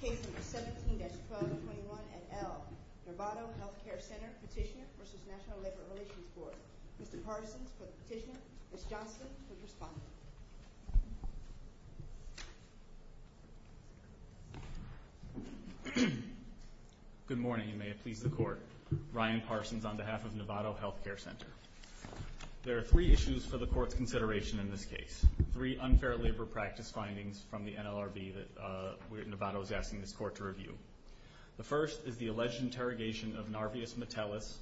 Case No. 17-1221 et al. Novato Healthcare Center Petitioner v. National Labor Relations Board Mr. Parsons for the petitioner, Ms. Johnston for the respondent Good morning, and may it please the Court Ryan Parsons on behalf of Novato Healthcare Center There are three issues for the Court's consideration in this case Three unfair labor practice findings from the NLRB that Novato is asking this Court to review The first is the alleged interrogation of Narvius Metellus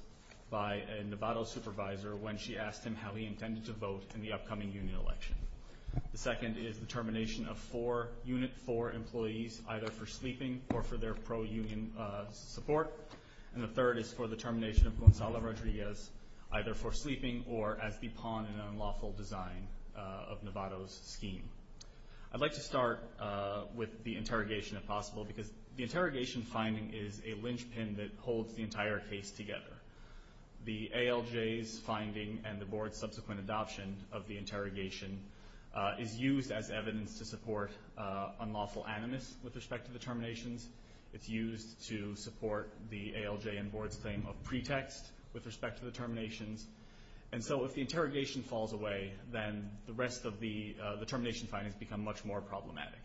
by a Novato supervisor when she asked him how he intended to vote in the upcoming union election The second is the termination of four Unit 4 employees either for sleeping or for their pro-union support And the third is for the termination of Gonzalo Rodriguez either for sleeping or as the pawn in an unlawful design of Novato's scheme I'd like to start with the interrogation, if possible because the interrogation finding is a linchpin that holds the entire case together The ALJ's finding and the Board's subsequent adoption of the interrogation is used as evidence to support unlawful animus with respect to the terminations It's used to support the ALJ and Board's claim of pretext with respect to the terminations And so if the interrogation falls away, then the rest of the termination findings become much more problematic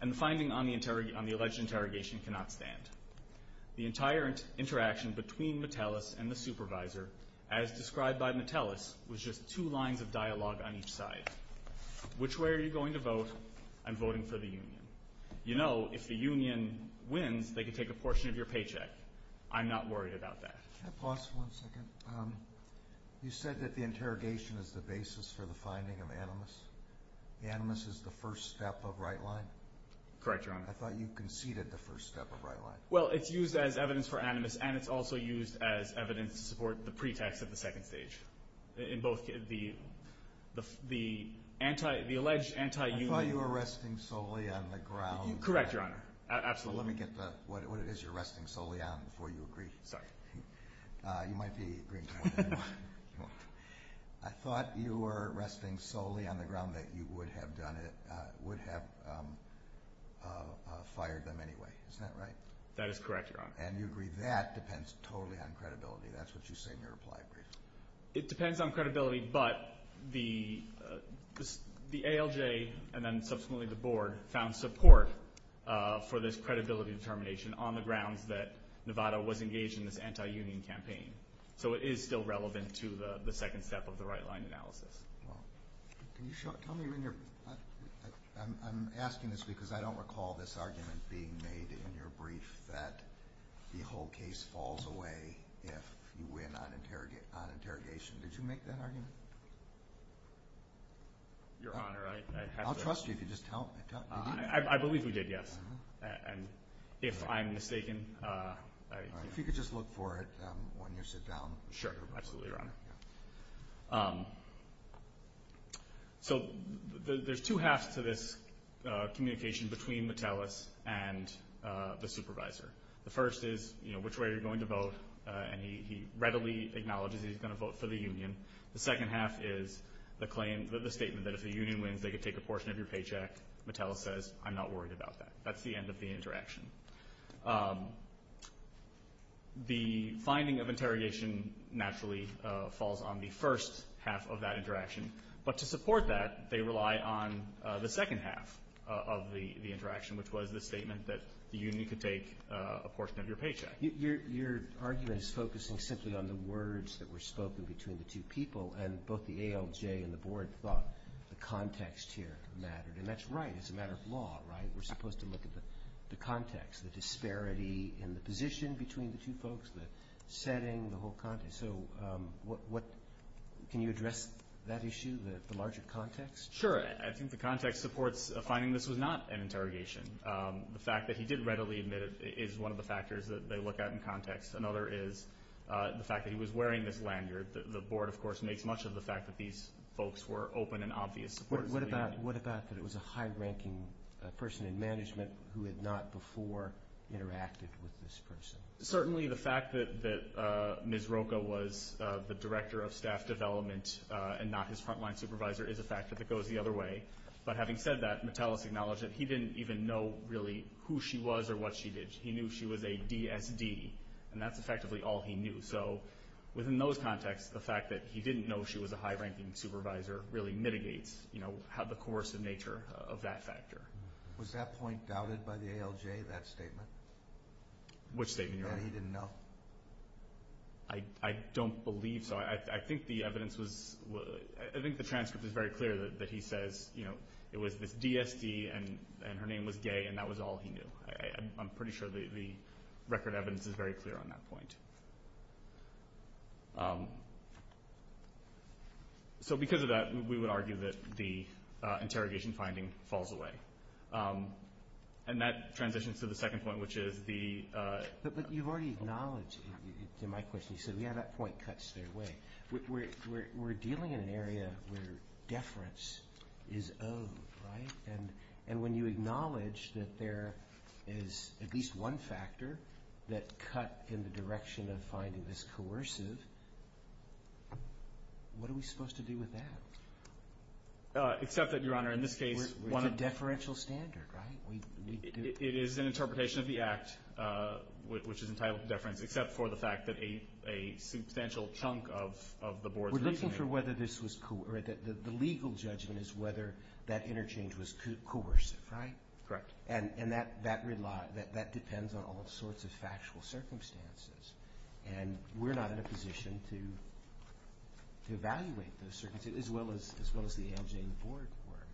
And the finding on the alleged interrogation cannot stand The entire interaction between Metellus and the supervisor as described by Metellus, was just two lines of dialogue on each side Which way are you going to vote? I'm voting for the union You know, if the union wins, they can take a portion of your paycheck I'm not worried about that Can I pause for one second? You said that the interrogation is the basis for the finding of animus Animus is the first step of right line? Correct, Your Honor I thought you conceded the first step of right line Well, it's used as evidence for animus and it's also used as evidence to support the pretext at the second stage In both the alleged anti-union I thought you were resting solely on the ground Correct, Your Honor Let me get what it is you're resting solely on before you agree Sorry You might be agreeing to more than one I thought you were resting solely on the ground that you would have done it Would have fired them anyway, isn't that right? That is correct, Your Honor And you agree that depends totally on credibility That's what you say in your reply brief It depends on credibility, but the ALJ and then subsequently the board found support for this credibility determination on the grounds that Nevada was engaged in this anti-union campaign So it is still relevant to the second step of the right line analysis I'm asking this because I don't recall this argument being made in your brief that the whole case falls away if you win on interrogation Did you make that argument? Your Honor, I have to I'll trust you if you just tell me I believe we did, yes And if I'm mistaken If you could just look for it when you sit down Sure, absolutely, Your Honor So there's two halves to this communication between Mattelis and the supervisor The first is which way you're going to vote and he readily acknowledges he's going to vote for the union The second half is the statement that if the union wins they could take a portion of your paycheck Mattelis says, I'm not worried about that That's the end of the interaction The finding of interrogation naturally falls on the first half of that interaction But to support that, they rely on the second half of the interaction which was the statement that the union could take a portion of your paycheck Your argument is focusing simply on the words that were spoken between the two people and both the ALJ and the board thought the context here mattered And that's right, it's a matter of law, right? We're supposed to look at the context, the disparity in the position between the two folks the setting, the whole context So can you address that issue, the larger context? Sure, I think the context supports finding this was not an interrogation The fact that he did readily admit it is one of the factors that they look at in context Another is the fact that he was wearing this lanyard The board, of course, makes much of the fact that these folks were open and obvious supporters of the union What about that it was a high-ranking person in management who had not before interacted with this person? Certainly the fact that Ms. Rocha was the director of staff development and not his front-line supervisor is a factor that goes the other way But having said that, Metellus acknowledged that he didn't even know really who she was or what she did He knew she was a DSD, and that's effectively all he knew So within those contexts, the fact that he didn't know she was a high-ranking supervisor really mitigates the coercive nature of that factor Was that point doubted by the ALJ, that statement? Which statement? That he didn't know I don't believe so I think the transcript is very clear that he says it was this DSD and her name was Gay and that was all he knew I'm pretty sure the record evidence is very clear on that point So because of that, we would argue that the interrogation finding falls away And that transitions to the second point, which is the But you've already acknowledged, to my question, you said, yeah, that point cuts their way We're dealing in an area where deference is owed, right? And when you acknowledge that there is at least one factor that cut in the direction of finding this coercive What are we supposed to do with that? Except that, Your Honor, in this case It's a deferential standard, right? It is an interpretation of the act, which is entitled deference Except for the fact that a substantial chunk of the board's reasoning The legal judgment is whether that interchange was coercive, right? Correct And that depends on all sorts of factual circumstances And we're not in a position to evaluate those circumstances, as well as the ALJ and the board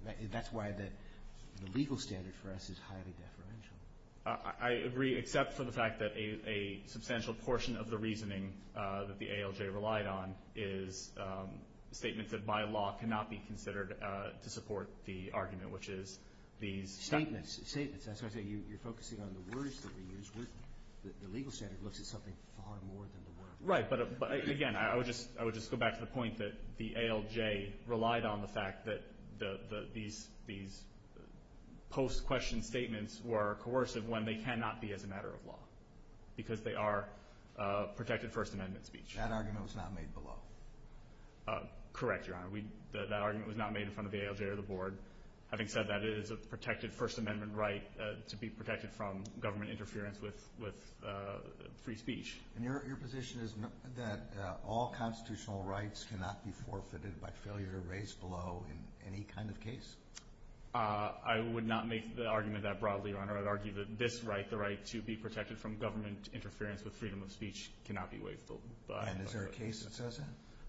were That's why the legal standard for us is highly deferential I agree, except for the fact that a substantial portion of the reasoning that the ALJ relied on Is statements that by law cannot be considered to support the argument, which is these Statements, statements That's why I say you're focusing on the words that we use The legal standard looks at something far more than the words Right, but again, I would just go back to the point that the ALJ relied on the fact that These post-question statements were coercive when they cannot be as a matter of law Because they are protected First Amendment speech That argument was not made below Correct, Your Honor That argument was not made in front of the ALJ or the board Having said that, it is a protected First Amendment right To be protected from government interference with free speech And your position is that all constitutional rights cannot be forfeited By failure to raise below in any kind of case I would not make the argument that broadly, Your Honor I would argue that this right, the right to be protected from government interference with freedom of speech Cannot be waived And is there a case that says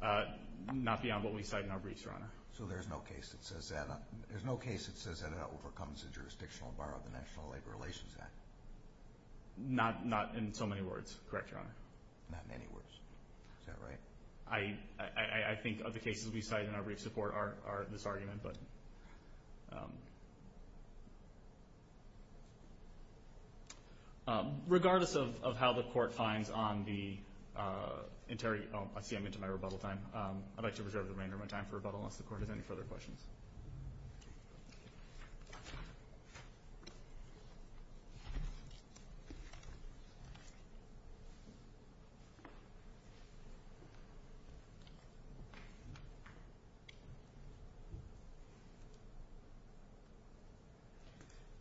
that? Not beyond what we cite in our briefs, Your Honor So there's no case that says that it overcomes the jurisdictional bar of the National Labor Relations Act? Not in so many words, correct, Your Honor Not in any words, is that right? I think of the cases we cite in our briefs of court are this argument Regardless of how the court finds on the I see I'm into my rebuttal time I'd like to reserve the remainder of my time for rebuttal unless the court has any further questions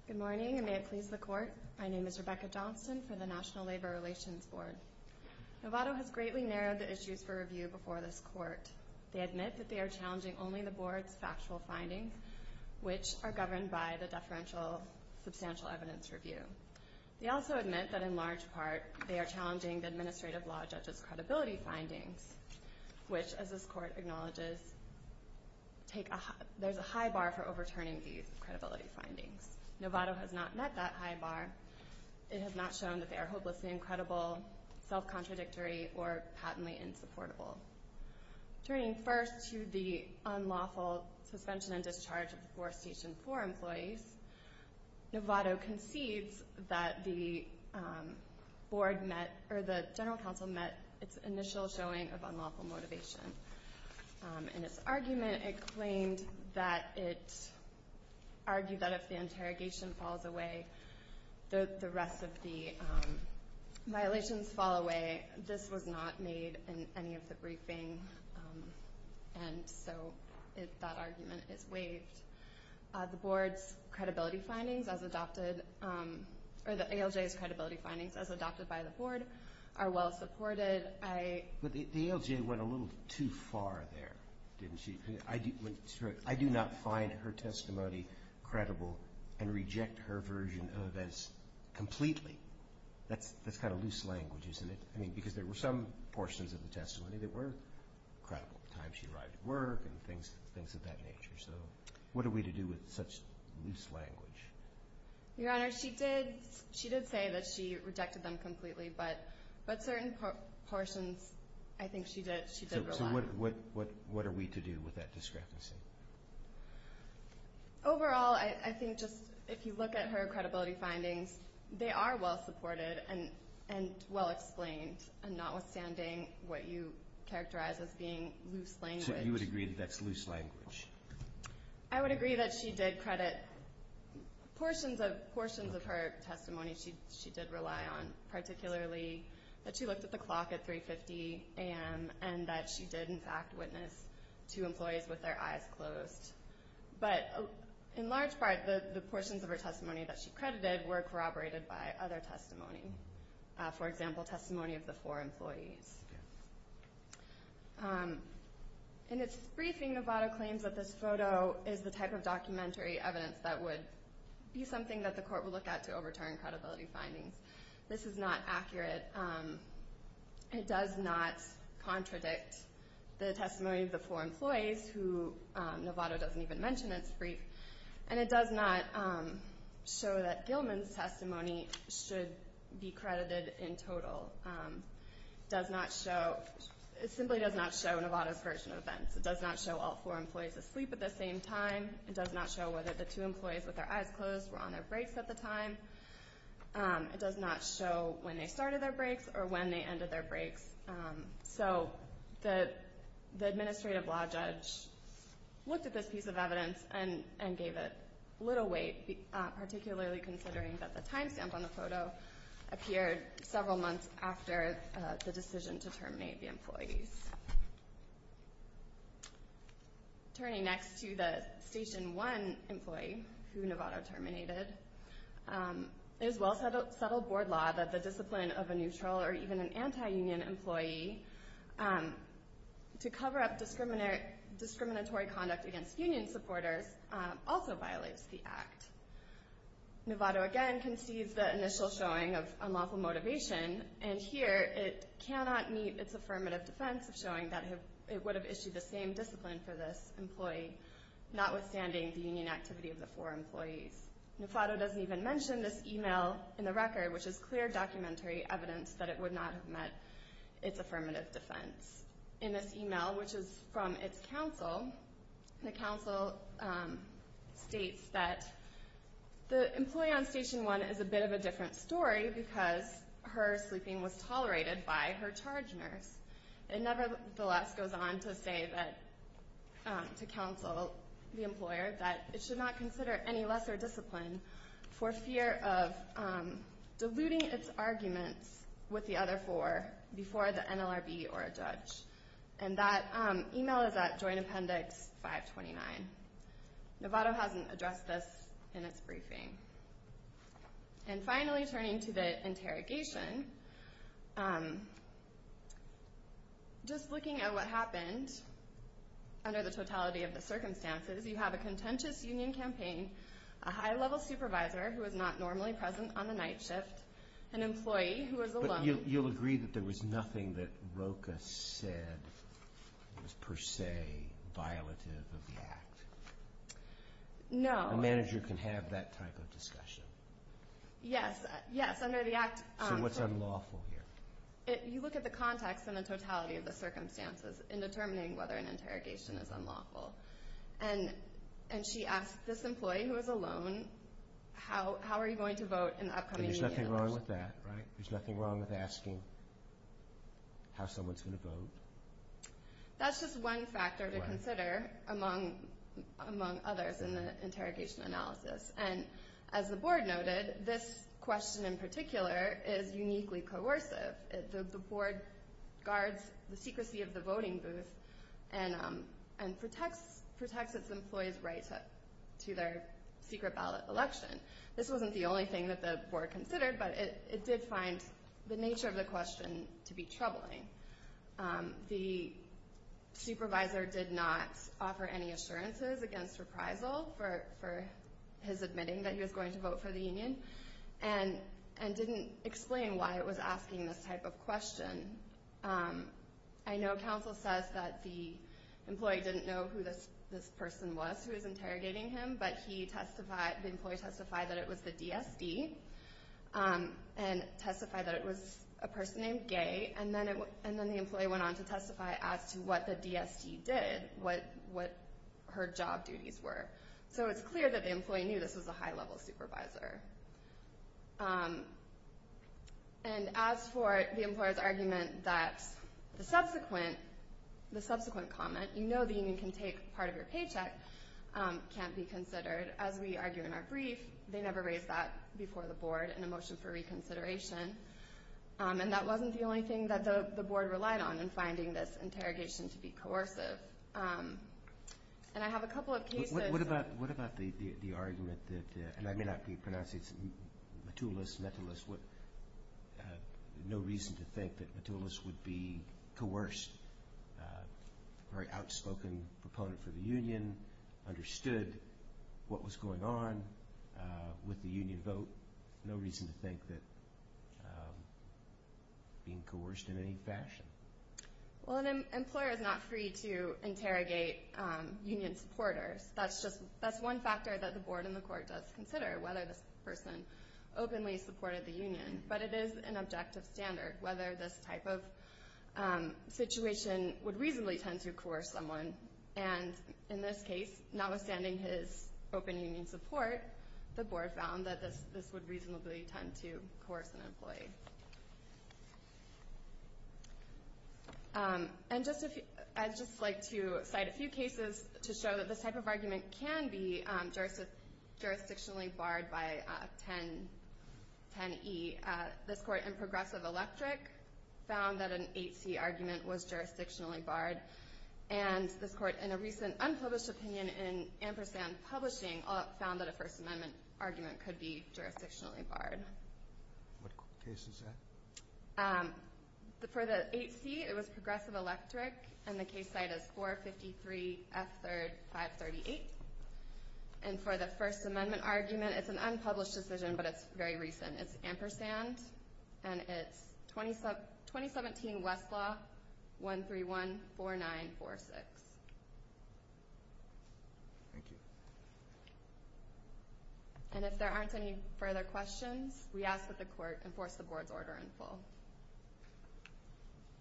Good morning, and may it please the court My name is Rebecca Johnston for the National Labor Relations Board Novato has greatly narrowed the issues for review before this court They admit that they are challenging only the board's factual findings Which are governed by the deferential substantial evidence review They also admit that in large part They are challenging the administrative law judge's credibility findings Which, as this court acknowledges There's a high bar for overturning these credibility findings Novato has not met that high bar It has not shown that they are hopelessly incredible Self-contradictory or patently insupportable Turning first to the unlawful suspension and discharge of the 4th Station 4 employees Novato concedes that the board met The general counsel met its initial showing of unlawful motivation In its argument, it claimed that It argued that if the interrogation falls away The rest of the violations fall away This was not made in any of the briefing And so that argument is waived The board's credibility findings As adopted Or the ALJ's credibility findings As adopted by the board Are well supported But the ALJ went a little too far there I do not find her testimony credible And reject her version of this completely That's kind of loose language, isn't it? Because there were some portions of the testimony That were credible What are we to do with such loose language? Your Honor, she did say That she rejected them completely But certain portions, I think she did rely So what are we to do with that discrepancy? Overall, I think just If you look at her credibility findings They are well supported and well explained Notwithstanding what you characterize as being loose language So you would agree that's loose language? I would agree that she did credit Portions of her testimony She did rely on, particularly That she looked at the clock at 3.50 a.m. And that she did, in fact, witness two employees with their eyes closed But in large part The portions of her testimony that she credited Were corroborated by other testimony For example, testimony of the four employees Yes In its briefing, Novato claims that this photo Is the type of documentary evidence that would Be something that the court would look at to overturn credibility findings This is not accurate It does not contradict the testimony Of the four employees who Novato doesn't even mention In its brief And it does not show that Gilman's testimony Should be credited in total It does not show It simply does not show Novato's version of events It does not show all four employees asleep at the same time It does not show whether the two employees with their eyes closed Were on their breaks at the time It does not show when they started their breaks Or when they ended their breaks So the administrative law judge Looked at this piece of evidence And gave it little weight Particularly considering that the time stamp on the photo Appeared several months after The decision to terminate the employees Turning next to the Station 1 employee Who Novato terminated It is well settled board law That the discipline of a neutral or even an anti-union employee To cover up discriminatory conduct Against union supporters Also violates the act Novato again concedes the initial showing of unlawful motivation And here it cannot meet its affirmative defense Of showing that it would have issued the same discipline For this employee Notwithstanding the union activity of the four employees Novato doesn't even mention this email in the record Which is clear documentary evidence That it would not have met its affirmative defense In this email, which is from its counsel The counsel states that The employee on Station 1 is a bit of a different story Because her sleeping was tolerated By her charge nurse It nevertheless goes on to say To counsel the employer That it should not consider any lesser discipline For fear of diluting its arguments With the other four Before the NLRB or a judge And that email is at Joint Appendix 529 Novato hasn't addressed this in its briefing And finally turning to the interrogation Just looking at what happened Under the totality of the circumstances You have a contentious union campaign A high-level supervisor who is not normally present on the night shift An employee who is alone But you'll agree that there was nothing that Rocha said Was per se violative of the act? No A manager can have that type of discussion? Yes, under the act So what's unlawful here? You look at the context and the totality of the circumstances In determining whether an interrogation is unlawful And she asks this employee who is alone How are you going to vote in the upcoming meeting? There's nothing wrong with that, right? There's nothing wrong with asking how someone's going to vote That's just one factor to consider Among others in the interrogation analysis And as the board noted This question in particular is uniquely coercive The board guards the secrecy of the voting booth And protects its employees' rights To their secret ballot election This wasn't the only thing that the board considered But it did find the nature of the question to be troubling The supervisor did not offer any assurances Against reprisal for his admitting That he was going to vote for the union And didn't explain why it was asking this type of question I know counsel says that the employee Didn't know who this person was Who was interrogating him But the employee testified that it was the DSD And testified that it was a person named Gay And then the employee went on to testify As to what the DSD did What her job duties were So it's clear that the employee knew This was a high-level supervisor And as for the employer's argument That the subsequent comment You know the union can take part of your paycheck Can't be considered As we argue in our brief They never raised that before the board In a motion for reconsideration And that wasn't the only thing that the board relied on In finding this interrogation to be coercive And I have a couple of cases What about the argument And I may not be pronouncing it No reason to think that Metulus would be coerced A very outspoken proponent for the union Understood what was going on With the union vote No reason to think that Being coerced in any fashion Well an employer is not free to interrogate Union supporters That's one factor that the board and the court does consider Whether this person openly supported the union But it is an objective standard Whether this type of situation would reasonably tend to coerce someone And in this case Notwithstanding his open union support The board found that this would reasonably tend to Coerce an employee And just a few I'd just like to cite a few cases To show that this type of argument can be Jurisdictionally barred by 10E This court in Progressive Electric Found that an 8C argument was jurisdictionally barred And this court in a recent unpublished opinion In Ampersand Publishing Found that a First Amendment argument could be jurisdictionally barred What case is that? For the 8C it was Progressive Electric And the case site is 453 F 3rd 538 And for the First Amendment argument It's an unpublished decision but it's very recent It's Ampersand and it's 2017 Westlaw 131 4946 Thank you And if there aren't any further questions We ask that the court enforce the board's order in full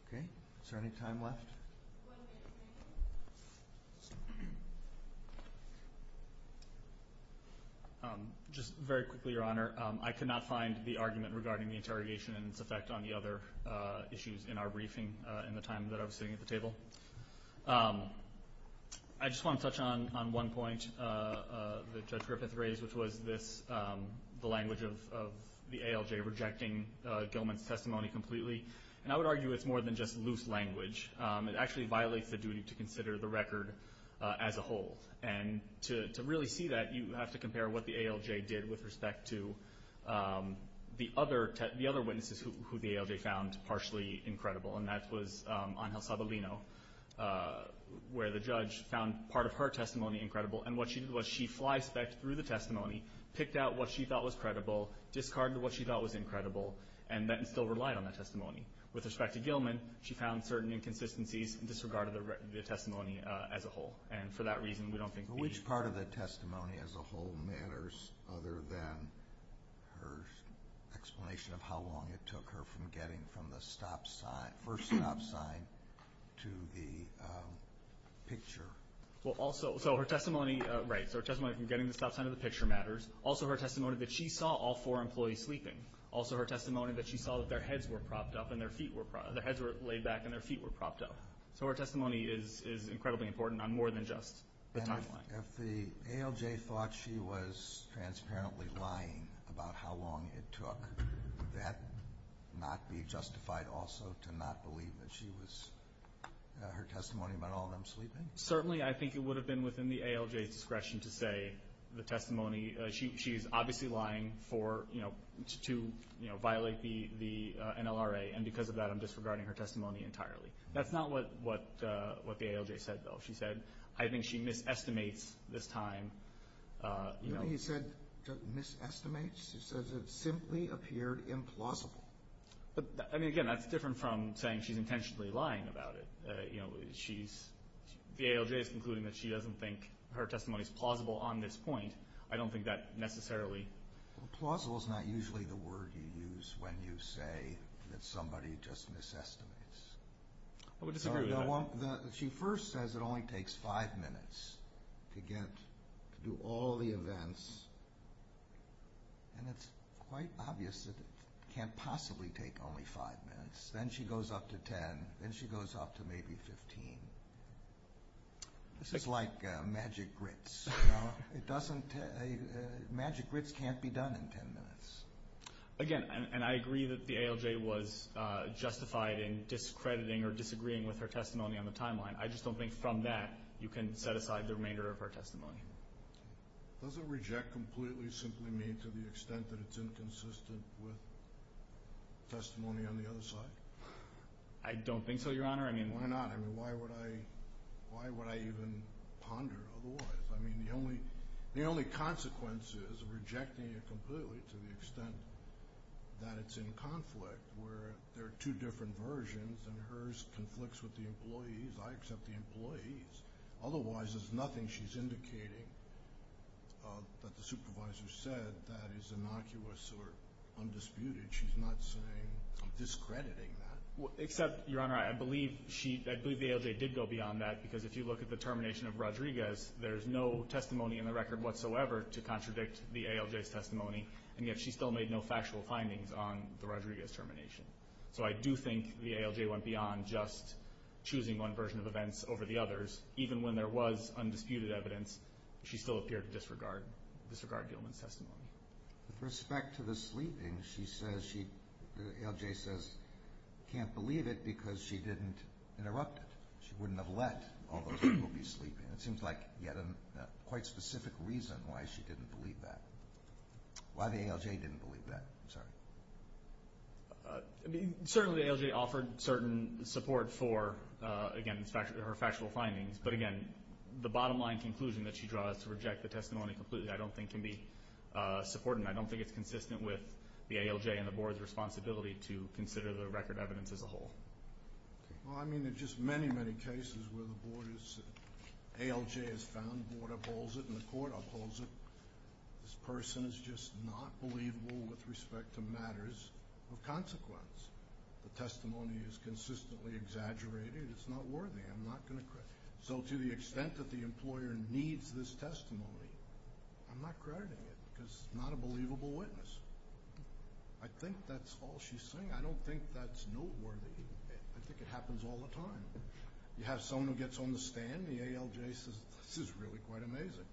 Okay, is there any time left? Just very quickly your honor I could not find the argument regarding the interrogation And its effect on the other issues in our briefing In the time that I was sitting at the table I just want to touch on one point That Judge Griffith raised which was The language of the ALJ rejecting Gilman's testimony completely And I would argue it's more than just loose language It actually violates the duty to consider the record As a whole and to really see that You have to compare what the ALJ did with respect to The other witnesses who the ALJ found Partially incredible and that was Angel Sabalino where the judge Found part of her testimony incredible and what she did was She flyspecked through the testimony, picked out what she thought was credible Discarded what she thought was incredible and then still relied on that testimony With respect to Gilman, she found certain inconsistencies And disregarded the testimony as a whole And for that reason we don't think Which part of the testimony as a whole matters Other than her explanation of how long it took her From getting from the first stop sign To the picture Well also her testimony From getting the stop sign to the picture matters Also her testimony that she saw all four employees sleeping Also her testimony that she saw that their heads were propped up Their heads were laid back and their feet were propped up So her testimony is incredibly important on more than just the timeline And if the ALJ thought she was Transparently lying about how long it took Would that not be justified also To not believe that she was Her testimony about all of them sleeping? Certainly I think it would have been within the ALJ's discretion to say The testimony, she's obviously lying for To violate the NLRA And because of that I'm disregarding her testimony entirely That's not what the ALJ said though I think she mis-estimates this time You know what he said? Mis-estimates? He said it simply appeared implausible Again that's different from saying she's intentionally lying about it The ALJ is concluding that she doesn't think Her testimony is plausible on this point I don't think that necessarily Plausible is not usually the word you use when you say That somebody just mis-estimates She first says it only takes 5 minutes To do all the events And it's quite obvious That it can't possibly take only 5 minutes Then she goes up to 10 Then she goes up to maybe 15 This is like magic grits Magic grits can't be done in 10 minutes Again and I agree that the ALJ Was justified in discrediting or disagreeing With her testimony on the timeline I just don't think from that you can set aside the remainder of her testimony Does it reject completely simply mean To the extent that it's inconsistent With testimony on the other side? I don't think so your honor Why would I even ponder otherwise The only consequence is Rejecting it completely to the extent That it's in conflict Where there are two different versions And hers conflicts with the employees I accept the employees Otherwise there's nothing she's indicating That the supervisor said That is innocuous or undisputed She's not saying I'm discrediting that Except your honor I believe the ALJ did go beyond that Because if you look at the termination of Rodriguez There's no testimony in the record whatsoever To contradict the ALJ's testimony And yet she still made no factual findings On the Rodriguez termination So I do think the ALJ went beyond Just choosing one version of events over the others Even when there was undisputed evidence She still appeared to disregard Gilman's testimony With respect to the sleeping The ALJ says she can't believe it Because she didn't interrupt it She wouldn't have let all those people be sleeping It seems like you had a quite specific reason Why she didn't believe that Why the ALJ didn't believe that Certainly the ALJ offered certain support For her factual findings But again the bottom line conclusion That she draws to reject the testimony completely I don't think can be supported And I don't think it's consistent with the ALJ And the board's responsibility To consider the record evidence as a whole Well I mean there are just many many cases Where the ALJ has found, the board upholds it And the court upholds it This person is just not believable with respect to matters of consequence The testimony is consistently exaggerated It's not worthy So to the extent that the employer needs this testimony I'm not crediting it Because it's not a believable witness I think that's all she's saying I don't think that's noteworthy I think it happens all the time You have someone who gets on the stand The ALJ says this is really quite amazing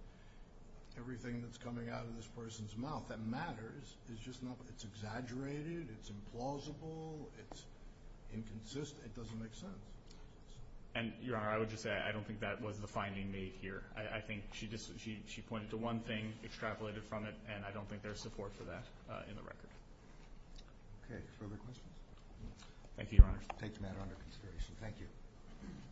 Everything that's coming out of this person's mouth That matters is just not It's exaggerated, it's implausible It's inconsistent, it doesn't make sense And your honor, I would just say I don't think that was the finding made here She pointed to one thing, extrapolated from it And I don't think there's support for that in the record Okay, further questions? Thank you your honor